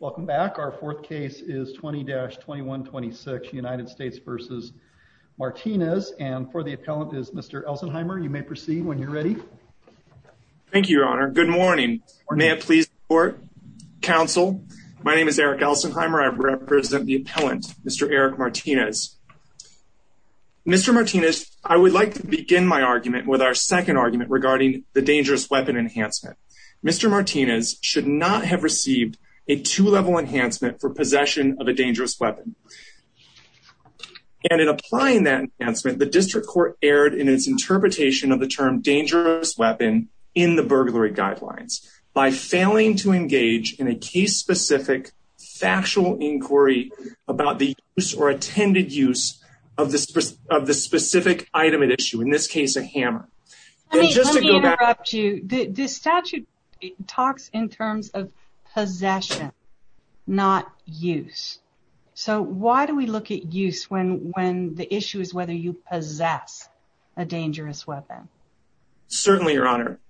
Welcome back. Our fourth case is 20-2126 United States v. Martinez, and for the appellant is Mr. Elsenheimer. You may proceed when you're ready. Thank you, Your Honor. Good morning, or may it please the Court, Counsel. My name is Eric Elsenheimer. I represent the appellant, Mr. Eric Martinez. Mr. Martinez, I would like to begin my argument with our second argument regarding the dangerous weapon enhancement. Mr. Martinez should not have received a two-level enhancement for possession of a dangerous weapon, and in applying that enhancement, the District Court erred in its interpretation of the term dangerous weapon in the burglary guidelines by failing to engage in a case-specific factual inquiry about the use or attended use of the specific item at issue, in this case a hammer. The statute talks in terms of possession, not use, so why do we look at use when the issue is whether you possess a dangerous weapon? Certainly, Your Honor.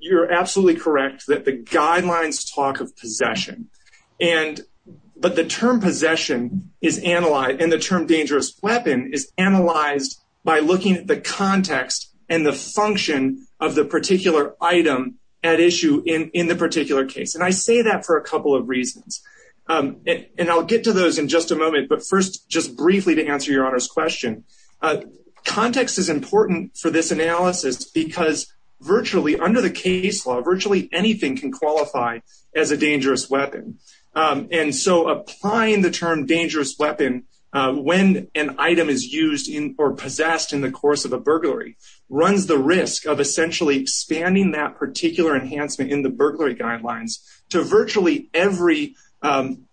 You're absolutely correct that the guidelines talk of possession, but the term possession and the context and the function of the particular item at issue in the particular case, and I say that for a couple of reasons, and I'll get to those in just a moment, but first just briefly to answer Your Honor's question. Context is important for this analysis because virtually under the case law, virtually anything can qualify as a dangerous weapon, and so applying the term dangerous weapon when an item is used in or possessed in the course of a burglary runs the risk of essentially expanding that particular enhancement in the burglary guidelines to virtually every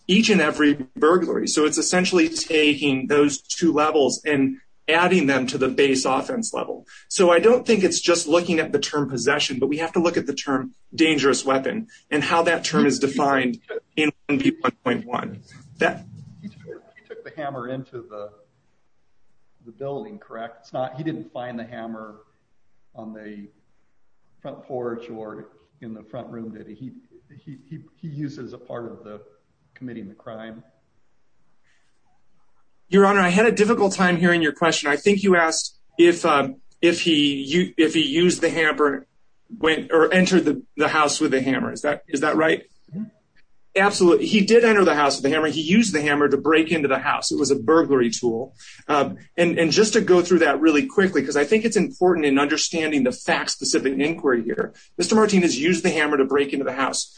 each and every burglary, so it's essentially taking those two levels and adding them to the base offense level. So I don't think it's just looking at the term possession, but we have to look at the term dangerous weapon and how that term is defined in 1P1.1. He took the hammer into the building, correct? He didn't find the hammer on the front porch or in the front room, did he? He used it as a part of the committing the crime. Your Honor, I had a difficult time hearing your question. I think you asked if he used the hammer or entered the house with the hammer. Is that right? Absolutely. He did enter the house with the hammer. He used the hammer to break into the house. It was a burglary tool, and just to go through that really quickly because I think it's important in understanding the fact-specific inquiry here, Mr. Martinez used the hammer to break into the house.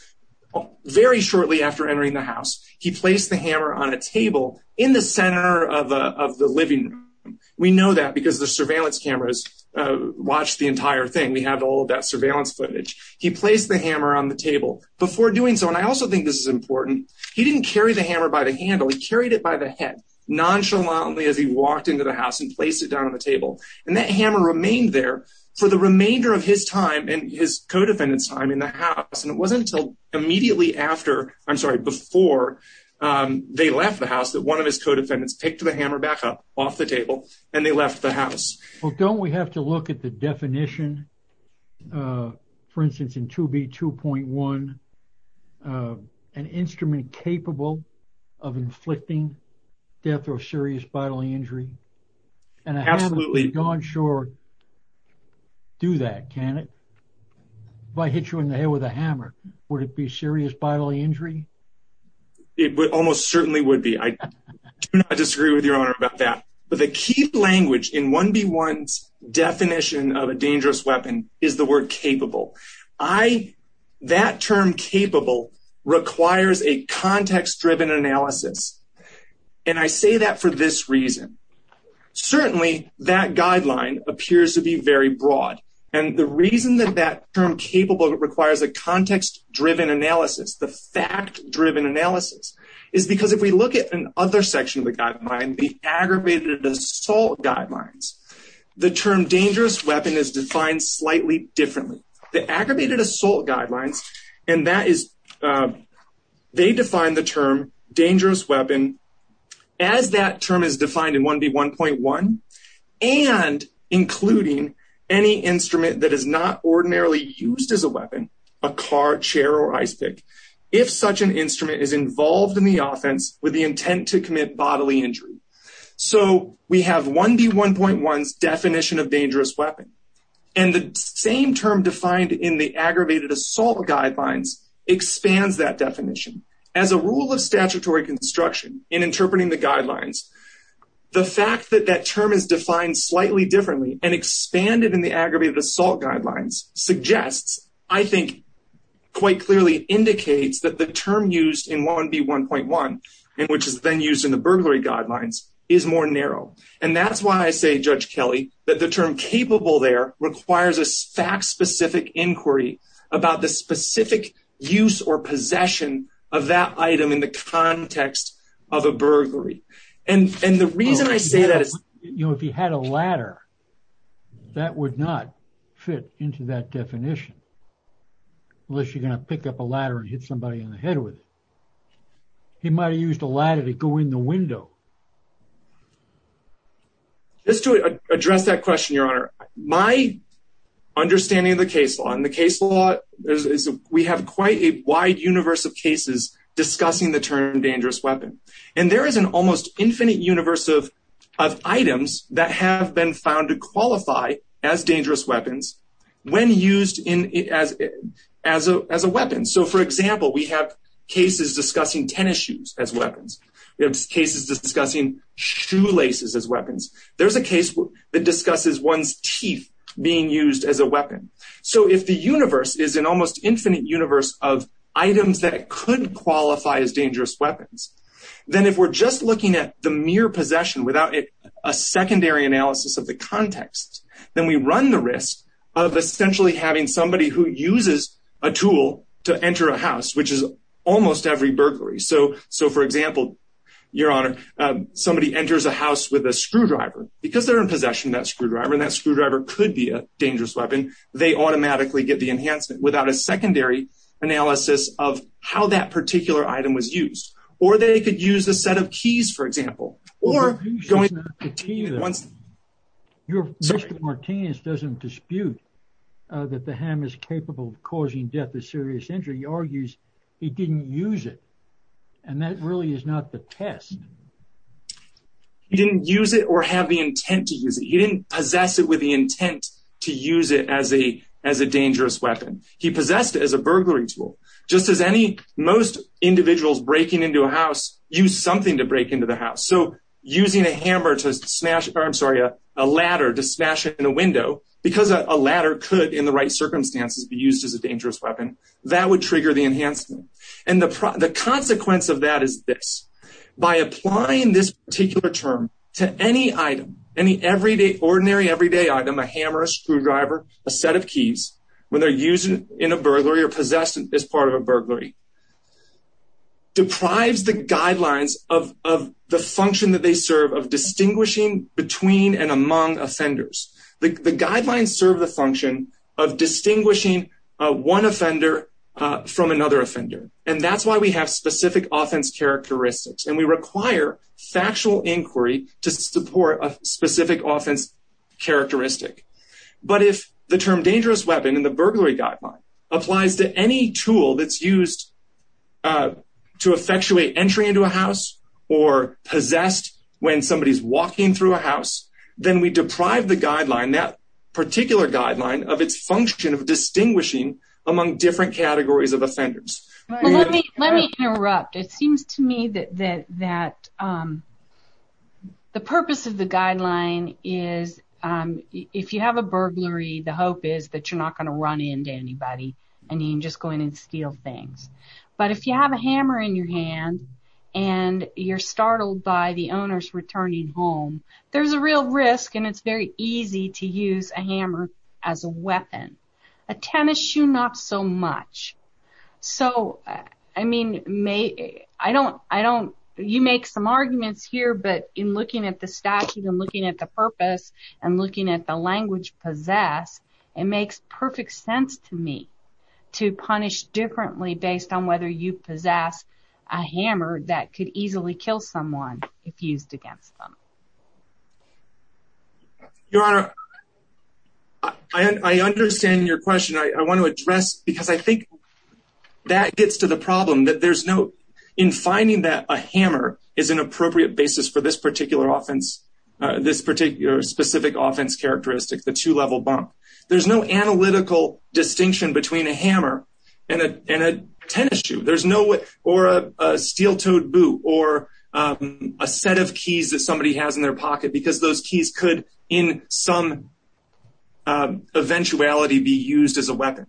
Very shortly after entering the house, he placed the hammer on a table in the center of the living room. We know that because the surveillance cameras watched the entire thing. We have all of that surveillance footage. He placed the hammer on the table. Before doing so, and I also think this is important, he didn't carry the hammer by the handle. He carried it by the head nonchalantly as he walked into the house and placed it down on the table. And that hammer remained there for the remainder of his time and his co-defendants time in the house. And it wasn't until immediately after, I'm sorry, before they left the house that one of his co-defendants picked the hammer back up off the table and they left the house. Well, don't we have to look at the definition, for instance, in 2B 2.1, an instrument capable of inflicting death or serious bodily injury? And I haven't gone short to do that, can it? If I hit you in the head with a hammer, would it be I disagree with your honor about that. But the key language in 1B1's definition of a dangerous weapon is the word capable. I, that term capable requires a context driven analysis. And I say that for this reason. Certainly that guideline appears to be very broad. And the reason that that term capable requires a context driven analysis, the fact driven analysis is because if we look at another section of the guideline, the aggravated assault guidelines, the term dangerous weapon is defined slightly differently. The aggravated assault guidelines, and that is, they define the term dangerous weapon as that term is defined in 1B1.1 and including any instrument that is not ordinarily used as a weapon, a car, chair, or ice pick. If such an instrument is intended to commit bodily injury. So we have 1B1.1's definition of dangerous weapon. And the same term defined in the aggravated assault guidelines expands that definition. As a rule of statutory construction in interpreting the guidelines, the fact that that term is defined slightly differently and expanded in the aggravated assault guidelines suggests, I think quite clearly indicates that the term used in 1B1.1, which is then used in the burglary guidelines, is more narrow. And that's why I say, Judge Kelly, that the term capable there requires a fact-specific inquiry about the specific use or possession of that item in the context of a burglary. And the reason I say that is, you know, if you had a ladder, that would not fit into that definition. Unless you're gonna pick up a ladder and hit somebody in the head with it. He might have used a ladder to go in the window. Just to address that question, Your Honor, my understanding of the case law, and the case law is we have quite a wide universe of cases discussing the term dangerous weapon. And there is an almost infinite universe of items that have been found to qualify as dangerous weapons when used as a weapon. So for example, we have cases discussing tennis shoes as weapons. We have cases discussing shoelaces as weapons. There's a case that discusses one's teeth being used as a weapon. So if the universe is an almost infinite universe of items that could qualify as dangerous weapons, then if we're just looking at the mere possession without a secondary analysis of the context, then we run the risk of essentially having somebody who uses a tool to enter a house, which is almost every burglary. So for example, Your Honor, somebody enters a house with a screwdriver. Because they're in possession of that screwdriver, and that screwdriver could be a dangerous weapon, they automatically get the enhancement without a secondary analysis of how that particular item was used. The defense doesn't dispute that the hammer is capable of causing death or serious injury argues he didn't use it. And that really is not the test. He didn't use it or have the intent to use it. He didn't possess it with the intent to use it as a as a dangerous weapon. He possessed as a burglary tool, just as any most individuals breaking into a house use something to break into the house. So using a hammer to smash or I'm sorry, a ladder to smash it in a window, because a ladder could in the right circumstances be used as a dangerous weapon that would trigger the enhancement. And the consequence of that is this, by applying this particular term to any item, any everyday ordinary everyday item, a hammer, a screwdriver, a set of keys, when they're using in a burglary or possessed as part of a burglary, deprives the guidelines of the function that they serve of distinguishing between and among offenders. The guidelines serve the function of distinguishing one offender from another offender. And that's why we have specific offense characteristics. And we require factual inquiry to support a specific offense characteristic. But if the term dangerous weapon in the burglary guideline applies to any tool that's used to effectuate entry into a house, or possessed, when somebody is walking through a house, then we deprive the guideline that particular guideline of its function of distinguishing among different categories of offenders. Let me interrupt, it seems to me that that that the purpose of the guideline is, if you have a burglary, the hope is that you're not going to run into anybody. And you just go in and steal things. But if you have a hammer in your hand, and you're startled by the owners returning home, there's a real risk. And it's very easy to use a hammer as a weapon, a tennis shoe, not so much. So I mean, may I don't I don't, you make some arguments here. But in looking at the statute and looking at the purpose, and looking at the language possessed, it perfect sense to me to punish differently based on whether you possess a hammer that could easily kill someone if used against them. Your Honor, I understand your question, I want to address because I think that gets to the problem that there's no in finding that a hammer is an appropriate basis for this particular offense, this particular specific offense characteristic, the two level bump, there's no analytical distinction between a hammer and a tennis shoe, there's no way or a steel toed boot or a set of keys that somebody has in their pocket, because those keys could, in some eventuality be used as a weapon.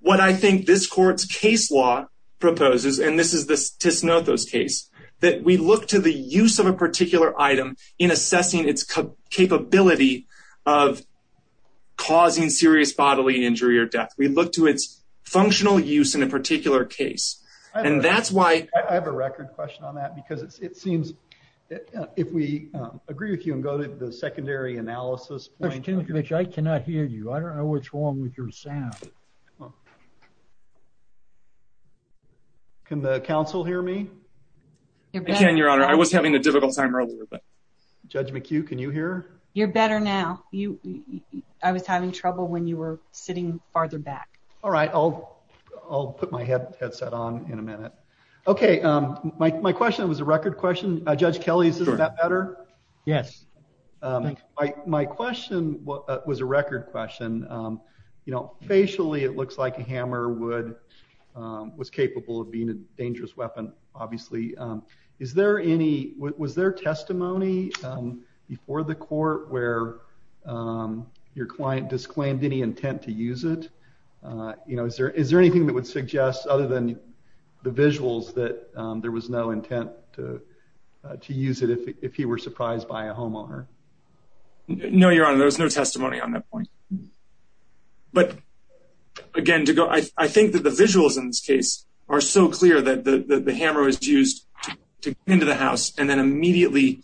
What I think this court's case law proposes, and this is this Tisnotho's case, that we look to the use of a particular item in of causing serious bodily injury or death, we look to its functional use in a particular case. And that's why I have a record question on that, because it seems if we agree with you and go to the secondary analysis, which I cannot hear you, I don't know what's wrong with your sound. Can the council hear me? You can, Your Honor, I was having a difficult time earlier, but Judge McHugh, can you hear? You're better now. I was having trouble when you were sitting farther back. All right, I'll put my headset on in a minute. Okay, my question was a record question. Judge Kelly, is that better? Yes. My question was a record question. Facially, it looks like a hammer was capable of being a dangerous weapon, obviously. Was there testimony before the court where your client disclaimed any intent to use it? Is there anything that would suggest, other than the visuals, that there was no intent to use it if he were surprised by a homeowner? No, Your Honor, there was no testimony on that point. But again, I think the facts in this case are so clear that the hammer was used to get into the house and then immediately,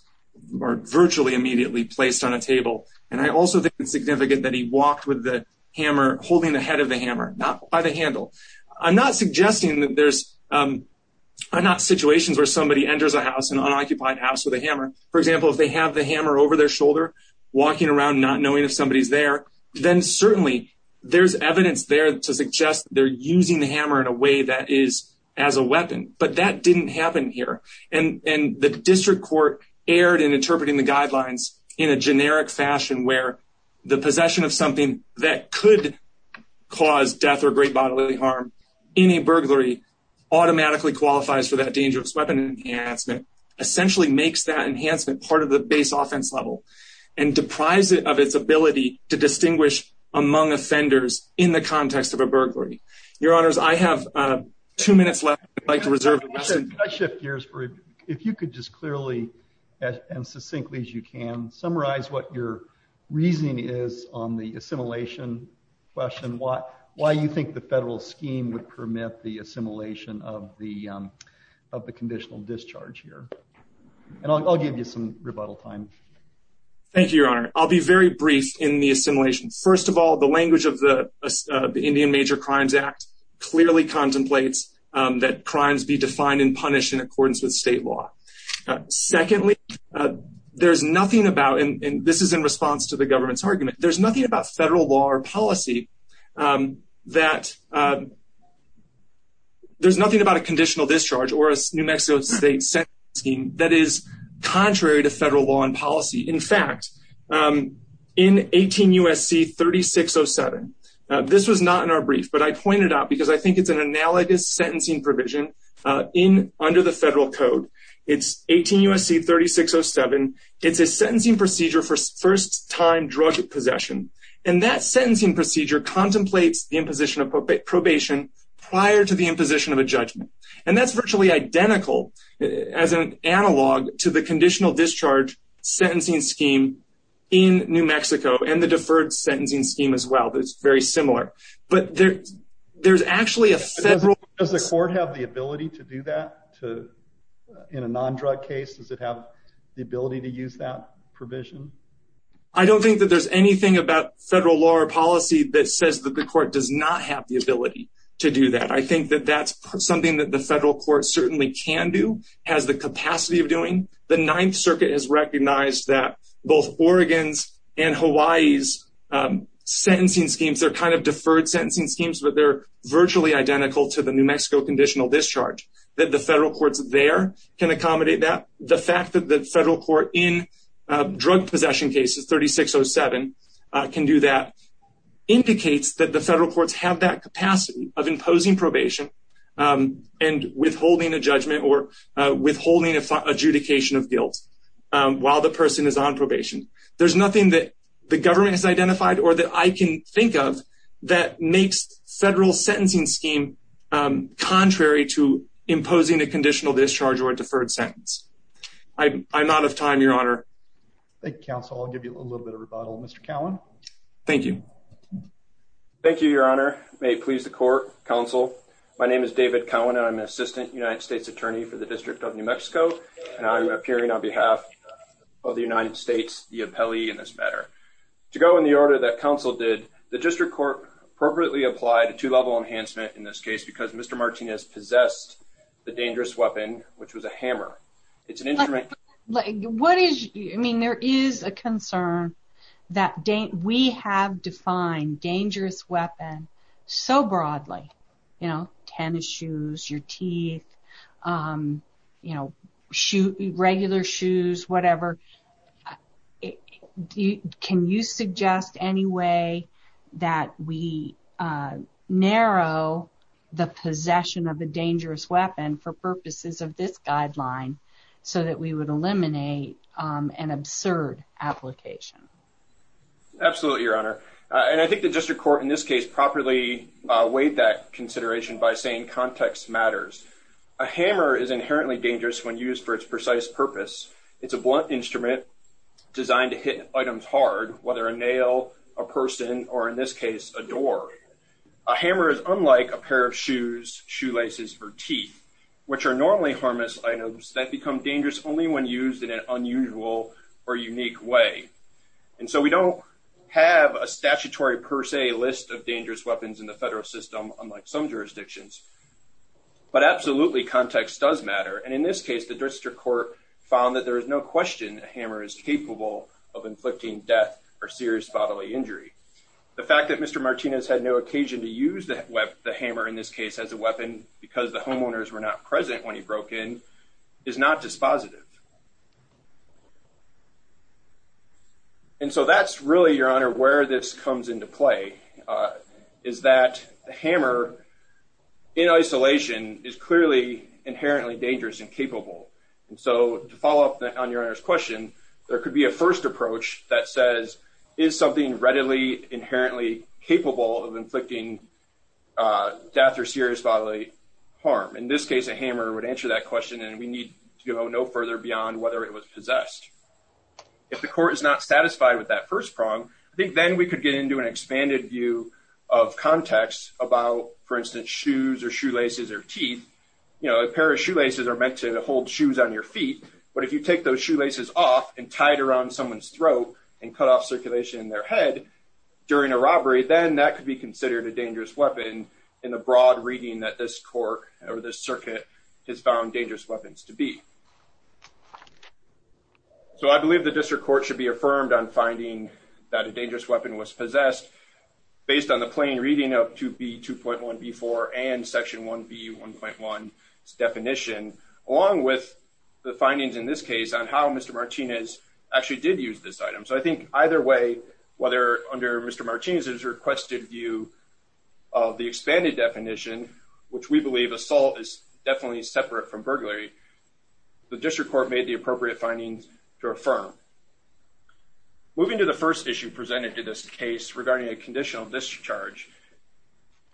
or virtually immediately, placed on a table. And I also think it's significant that he walked with the hammer, holding the head of the hammer, not by the handle. I'm not suggesting that there's situations where somebody enters a house, an unoccupied house, with a hammer. For example, if they have the hammer over their shoulder, walking around not knowing if somebody's there, then certainly there's evidence there to suggest they're using the hammer in a way that is as a weapon. But that didn't happen here. And the district court erred in interpreting the guidelines in a generic fashion, where the possession of something that could cause death or great bodily harm in a burglary automatically qualifies for that dangerous weapon enhancement, essentially makes that enhancement part of the base offense level, and deprives it of its ability to distinguish among offenders in the context of a burglary. Your Honors, I have two minutes left. I'd like to reserve the rest of the time. Could I shift gears for a minute? If you could just clearly and succinctly, as you can, summarize what your reasoning is on the assimilation question. Why you think the federal scheme would permit the assimilation of the conditional discharge here. And I'll give you some rebuttal time. Thank you, Your Honor. I'll be very brief in the assimilation. First of all, the language of the Indian Major Crimes Act clearly contemplates that crimes be defined and punished in accordance with state law. Secondly, there's nothing about, and this is in response to the government's argument, there's nothing about federal law or policy that, there's nothing about a conditional discharge or a New Mexico State sentencing scheme that is contrary to federal law and policy. In fact, in 18 I pointed out, because I think it's an analogous sentencing provision under the federal code, it's 18 U.S.C. 3607, it's a sentencing procedure for first-time drug possession. And that sentencing procedure contemplates the imposition of probation prior to the imposition of a judgment. And that's virtually identical as an analog to the conditional discharge sentencing scheme in New Mexico. Does the court have the ability to do that in a non-drug case? Does it have the ability to use that provision? I don't think that there's anything about federal law or policy that says that the court does not have the ability to do that. I think that that's something that the federal court certainly can do, has the capacity of doing. The Ninth Circuit has recognized that both Oregon's and Hawaii's sentencing schemes, they're kind of deferred sentencing schemes, but they're virtually identical to the New Mexico conditional discharge. That the federal courts there can accommodate that. The fact that the federal court in drug possession cases, 3607, can do that indicates that the federal courts have that capacity of imposing probation and withholding a judgment or withholding adjudication of guilt while the person is on probation. There's nothing that the government has identified or that I can think of that makes federal sentencing scheme contrary to imposing a conditional discharge or a deferred sentence. I'm out of time, Your Honor. Thank you, counsel. I'll give you a little bit of rebuttal. Mr. Cowan. Thank you. Thank you, Your Honor. May it please the court, counsel. My name is David Cowan and I'm an assistant United States attorney for the District of New Mexico and I'm appearing on behalf of the United States, the appellee in this matter. To go in the order that counsel did, the district court appropriately applied a two-level enhancement in this case because Mr. Martinez possessed the dangerous weapon, which was a hammer. It's an instrument. What is, I mean, there is a concern that we have defined dangerous weapon so broadly, you know, tennis shoes, your teeth, you know, regular shoes, whatever. Can you suggest any way that we narrow the possession of a dangerous weapon for purposes of this guideline so that we would eliminate an absurd application? Absolutely, Your Honor, and I think the district court in this case properly weighed that consideration by saying context matters. A hammer is used for its precise purpose. It's a blunt instrument designed to hit items hard, whether a nail, a person, or in this case, a door. A hammer is unlike a pair of shoes, shoelaces, or teeth, which are normally harmless items that become dangerous only when used in an unusual or unique way. And so we don't have a statutory per se list of dangerous weapons in the federal system, unlike some jurisdictions. But absolutely, context does matter. And in this case, the district court found that there is no question a hammer is capable of inflicting death or serious bodily injury. The fact that Mr. Martinez had no occasion to use the hammer in this case as a weapon because the homeowners were not present when he broke in is not dispositive. And so that's really, Your Honor, in isolation is clearly inherently dangerous and capable. And so to follow up on Your Honor's question, there could be a first approach that says, is something readily inherently capable of inflicting death or serious bodily harm? In this case, a hammer would answer that question and we need to go no further beyond whether it was possessed. If the court is not satisfied with that first prong, I think then we could get into an expanded view of context about, for instance, shoes or shoelaces or teeth. You know, a pair of shoelaces are meant to hold shoes on your feet. But if you take those shoelaces off and tie it around someone's throat and cut off circulation in their head during a robbery, then that could be considered a dangerous weapon in the broad reading that this court or this circuit has found dangerous weapons to be. So I believe the district court should be affirmed on finding that a dangerous weapon was possessed based on the plain reading of 2B.2.1.B.4 and Section 1B.1.1's definition, along with the findings in this case on how Mr. Martinez actually did use this item. So I think either way, whether under Mr. Martinez's requested view of the expanded definition, which we believe assault is definitely separate from burglary, the district court made the to this case regarding a conditional discharge.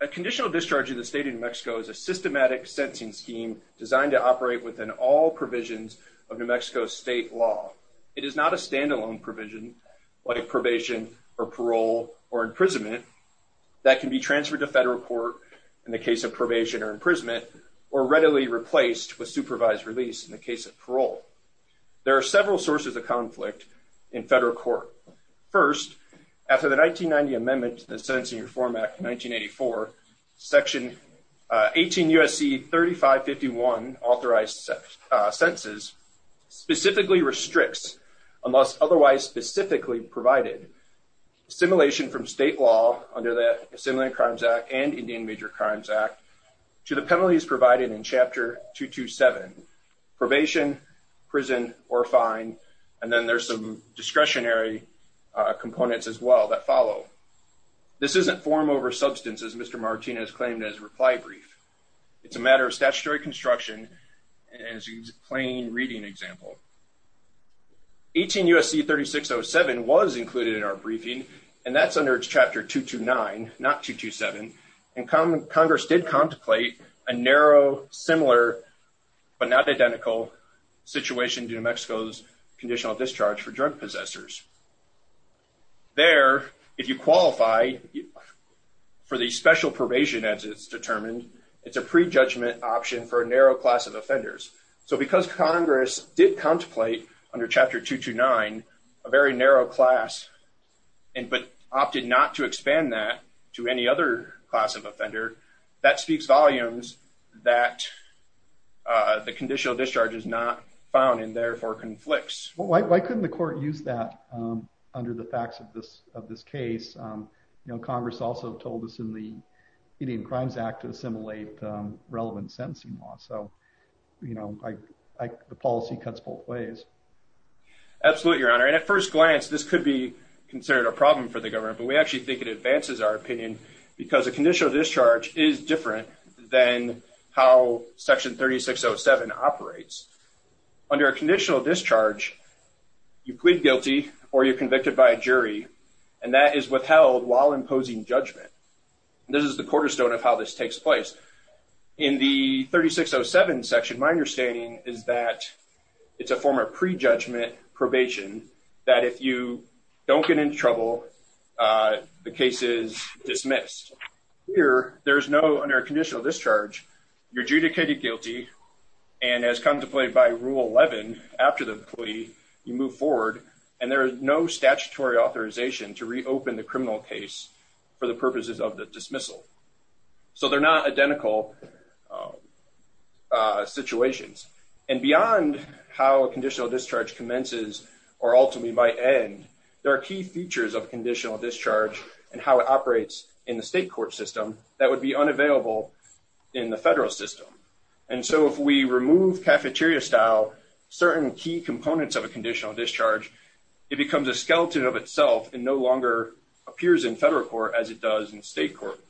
A conditional discharge in the state of New Mexico is a systematic sentencing scheme designed to operate within all provisions of New Mexico state law. It is not a standalone provision, like probation or parole or imprisonment, that can be transferred to federal court in the case of probation or imprisonment or readily replaced with supervised release in the case of parole. There are several sources of conflict in this case. After the 1990 amendment to the Sentencing Reform Act of 1984, Section 18 USC 3551, authorized sentences, specifically restricts, unless otherwise specifically provided, assimilation from state law under the Assimilating Crimes Act and Indian Major Crimes Act to the penalties provided in Chapter 227. Probation, prison, or fine, and then there's some discretionary components as well that follow. This isn't form over substance, as Mr. Martinez claimed as reply brief. It's a matter of statutory construction and it's a plain reading example. 18 USC 3607 was included in our briefing and that's under Chapter 229, not 227, and Congress did contemplate a narrow, similar but not identical situation to New Mexico's conditional discharge for drug possessors. There, if you qualify for the special probation as it's determined, it's a prejudgment option for a narrow class of offenders. So because Congress did contemplate under Chapter 229 a very narrow class and but opted not to expand that to any other class of offender, that speaks volumes that the conditional discharge is not found and therefore conflicts. Why couldn't the court use that under the facts of this of this case? You know, Congress also told us in the Indian Crimes Act to assimilate relevant sentencing law. So, you know, the policy cuts both ways. Absolutely, Your Honor, and at first glance this could be considered a problem for the government, but we actually think it advances our opinion because a conditional discharge is different than how Section 3607 operates. Under a conditional discharge, you plead guilty or you're convicted by a jury and that is withheld while imposing judgment. This is the cornerstone of how this takes place. In the 3607 section, my understanding is that it's a form of prejudgment probation that if you don't get into trouble, the case is dismissed. Here, there is no, under a conditional discharge, you're adjudicated guilty and as contemplated by Rule 11 after the plea, you move forward and there is no statutory authorization to reopen the criminal case for the purposes of the dismissal. So, they're not identical situations and beyond how a conditional discharge commences or ultimately might end, there are key features of conditional discharge and how it in the federal system. And so, if we remove cafeteria-style certain key components of a conditional discharge, it becomes a skeleton of itself and no longer appears in federal court as it does in state court.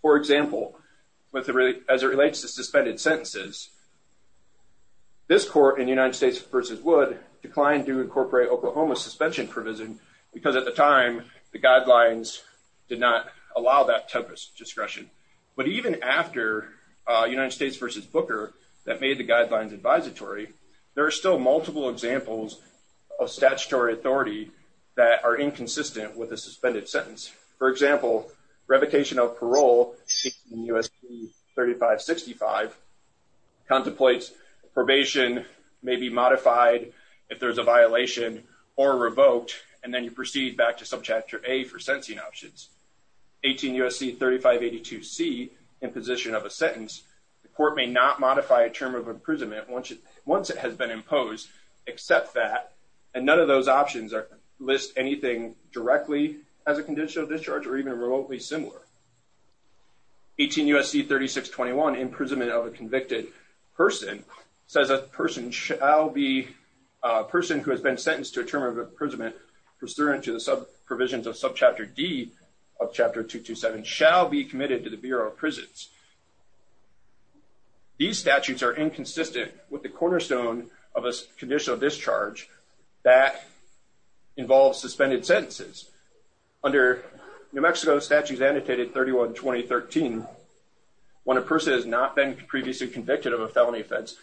For example, as it relates to suspended sentences, this court in the United States v. Wood declined to incorporate Oklahoma suspension provision because at the time, the guidelines did not allow that type of discretion. But even after United States v. Booker that made the guidelines advisatory, there are still multiple examples of statutory authority that are inconsistent with a suspended sentence. For example, revocation of parole in U.S. 3565 contemplates probation may be modified if there's a violation or revoked and then you proceed back to Subchapter A for sentencing options. 18 U.S.C. 3582C, imposition of a sentence, the court may not modify a term of imprisonment once it has been imposed except that and none of those options are list anything directly as a conditional discharge or even remotely similar. 18 U.S.C. 3621, imprisonment of a convicted person, says a person shall be a person who has been sentenced to a term of imprisonment pursuant to the sub provisions of Subchapter D of Chapter 227 shall be committed to the Bureau of Prisons. These statutes are inconsistent with the cornerstone of a conditional discharge that involves suspended sentences. Under New Mexico statutes annotated 31-2013, when a person has not been previously convicted of a felony offense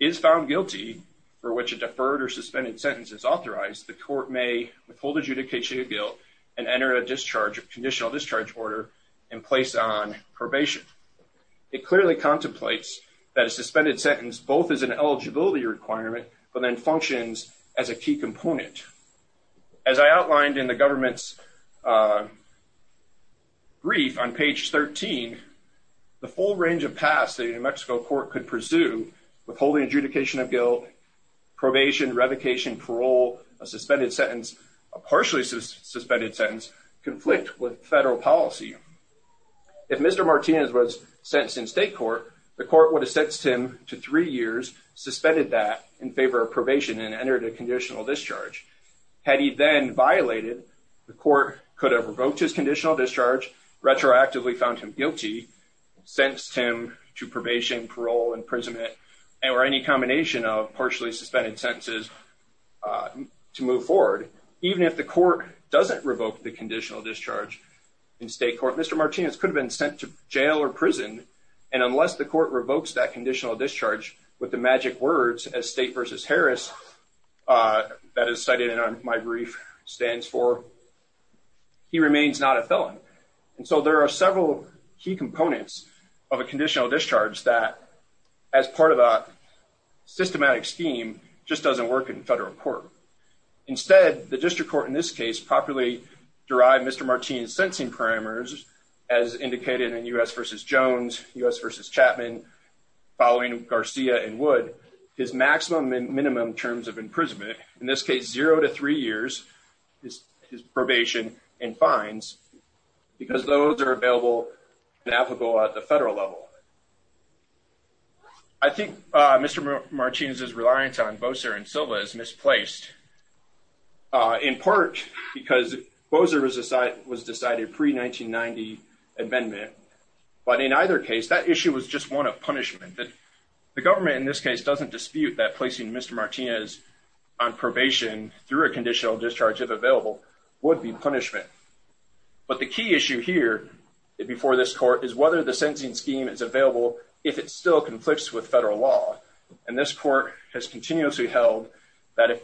is found guilty for which a deferred or suspended sentence is authorized, the court may withhold adjudication of guilt and enter a discharge of conditional discharge order in place on probation. It clearly contemplates that a suspended sentence both is an eligibility requirement but then functions as a key component. As I outlined in the government's brief on page 13, the full range of paths the New Mexico court could pursue withholding adjudication of guilt, probation, revocation, parole, a suspended sentence, a partially suspended sentence, conflict with federal policy. If Mr. Martinez was sentenced in state court, the court would have sentenced him to three years suspended that in favor of probation and entered a conditional discharge. Had he then violated, the court could have revoked his conditional discharge retroactively found him guilty, sentenced him to probation, parole, imprisonment, and or any combination of partially suspended sentences to move forward. Even if the court doesn't revoke the conditional discharge in state court, Mr. Martinez could have been sent to jail or prison and unless the court revokes that conditional discharge with the magic words as state versus Harris that is cited in my brief stands for he remains not a felon. And so there are several key components of a conditional discharge that as part of a systematic scheme just doesn't work in federal court. Instead, the district court in this case properly derived Mr. Martinez sentencing parameters as indicated in US versus Jones, US versus Chapman, following Garcia and Wood, his maximum and minimum terms of imprisonment. In this case, 0-3 years is his probation and fines because those air available navigable at the federal level. I think Mr. Martinez is reliant on Bocer and Silva is misplaced in part because Bocer was decided pre 1990 amendment. But in either case, that issue was just one of punishment that the government in this case doesn't dispute that placing Mr. Martinez on probation through a conditional discharge if available would be punishment. But the key issue here before this court is whether the sentencing scheme is available if it still conflicts with federal law. And this court has continuously held that if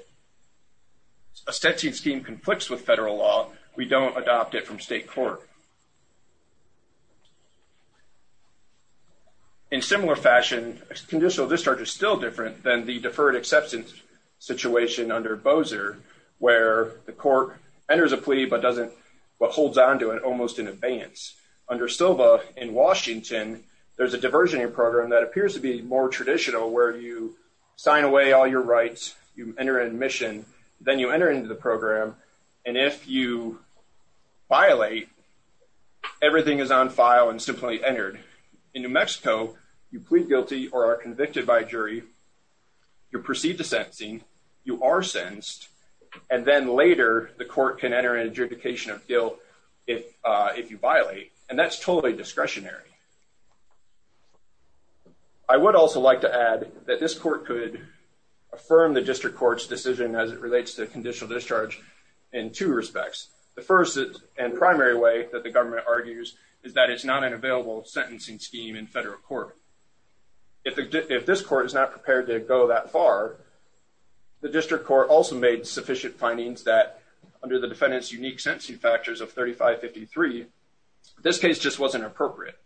a sentencing scheme conflicts with federal law, we don't adopt it from different than the deferred acceptance situation under Bocer, where the court enters a plea but doesn't hold on to it almost in advance. Under Silva in Washington, there's a diversionary program that appears to be more traditional, where you sign away all your rights, you enter admission, then you enter into the program. And if you violate, everything is on file and simply entered. In New Mexico, you plead guilty or are convicted by jury. You're perceived to sentencing, you are sensed. And then later, the court can enter in adjudication of guilt if if you violate, and that's totally discretionary. I would also like to add that this court could affirm the district court's decision as it relates to conditional discharge in two respects. The first and primary way that the government argues is that it's not an available sentencing scheme in federal court. If this court is not prepared to go that far, the district court also made sufficient findings that under the defendant's unique sentencing factors of 3553, this case just wasn't appropriate,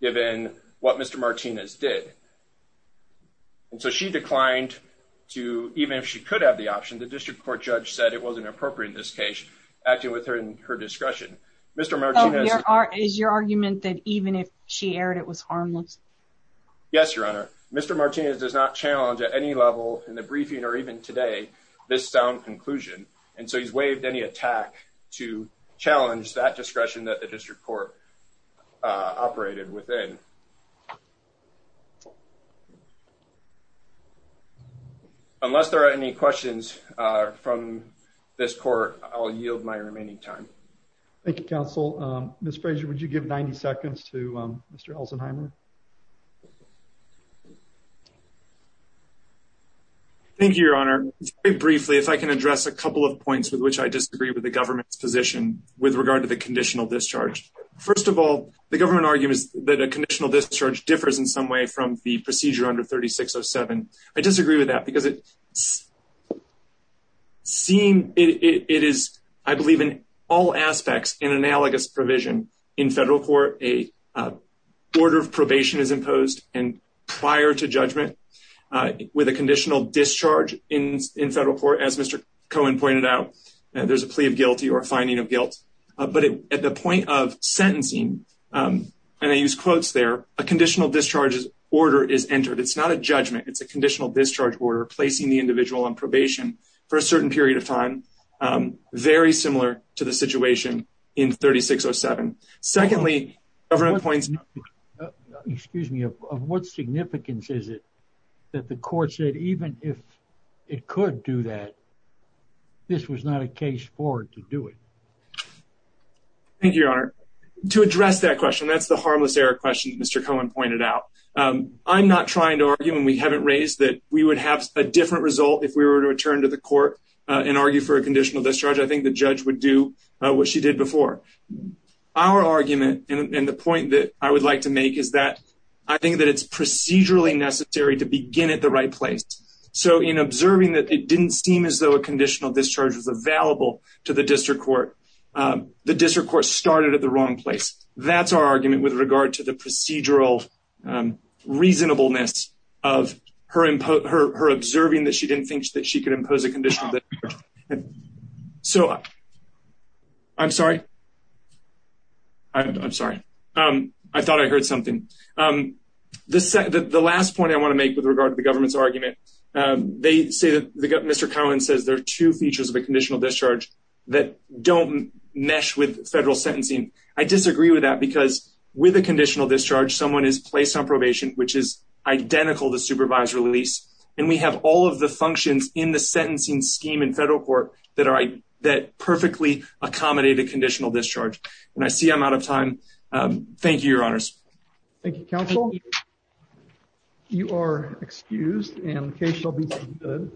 given what Mr. Martinez did. So she declined to even if she could have the option, the district court judge said it wasn't appropriate in this case, acting with her in her discretion. Mr. Martinez is your argument that even if she aired, it was harmless. Yes, Your Honor. Mr. Martinez does not challenge at any level in the briefing or even today this sound conclusion. And so he's waived any attack to challenge that discretion that the district court operated within. Unless there are any questions from this court, I'll yield my remaining time. Thank you, Counsel. Ms. Frazier, would you give 90 seconds to Mr Elsenheimer? Thank you, Your Honor. Very briefly, if I can address a couple of points with which I disagree with the government's position with regard to the conditional discharge. First of all, the government arguments that a conditional discharge differs in some way from the procedure under 3607. I disagree with that because it seeing it is, I believe, in all aspects in analogous provision in federal court, a order of probation is imposed and prior to judgment with a conditional discharge in in federal court, as Mr Cohen pointed out, there's a plea of guilty or finding of guilt. But at the point of sentencing, um, and I use quotes there, a conditional discharges order is entered. It's not a judgment. It's a conditional discharge order placing the individual on probation for a certain period of time. Um, very similar to the situation in 3607. Secondly, government points. Excuse me. Of what significance is it that the court said? Even if it could do that, this was not a case forward to do it. Thank you, Your Honor. To address that question, that's the harmless air question. Mr Cohen pointed out. I'm not trying to argue and we haven't raised that we would have a different result if we were to return to the court and argue for a conditional discharge. I think the judge would do what she did before our argument. And the point that I would like to make is that I think that it's procedurally necessary to begin at the right place. So in observing that it didn't seem as though a conditional discharge is available to the district court, the district court started at the wrong place. That's our argument with regard to the procedural reasonableness of her observing that she didn't think that she could impose a condition. So I'm sorry. I'm sorry. Um, I thought I heard something. Um, the last point I want to make with regard to the government's argument, they say that Mr Cohen says there are two features of a conditional discharge that don't mesh with federal sentencing. I disagree with that because with a conditional discharge, someone is placed on probation, which is identical to supervised release. And we have all of the functions in the sentencing scheme in federal court that are that perfectly accommodated conditional discharge. And I see I'm out of time. Thank you, Your Honors. Thank you, Counsel. You are excused and the case will be good.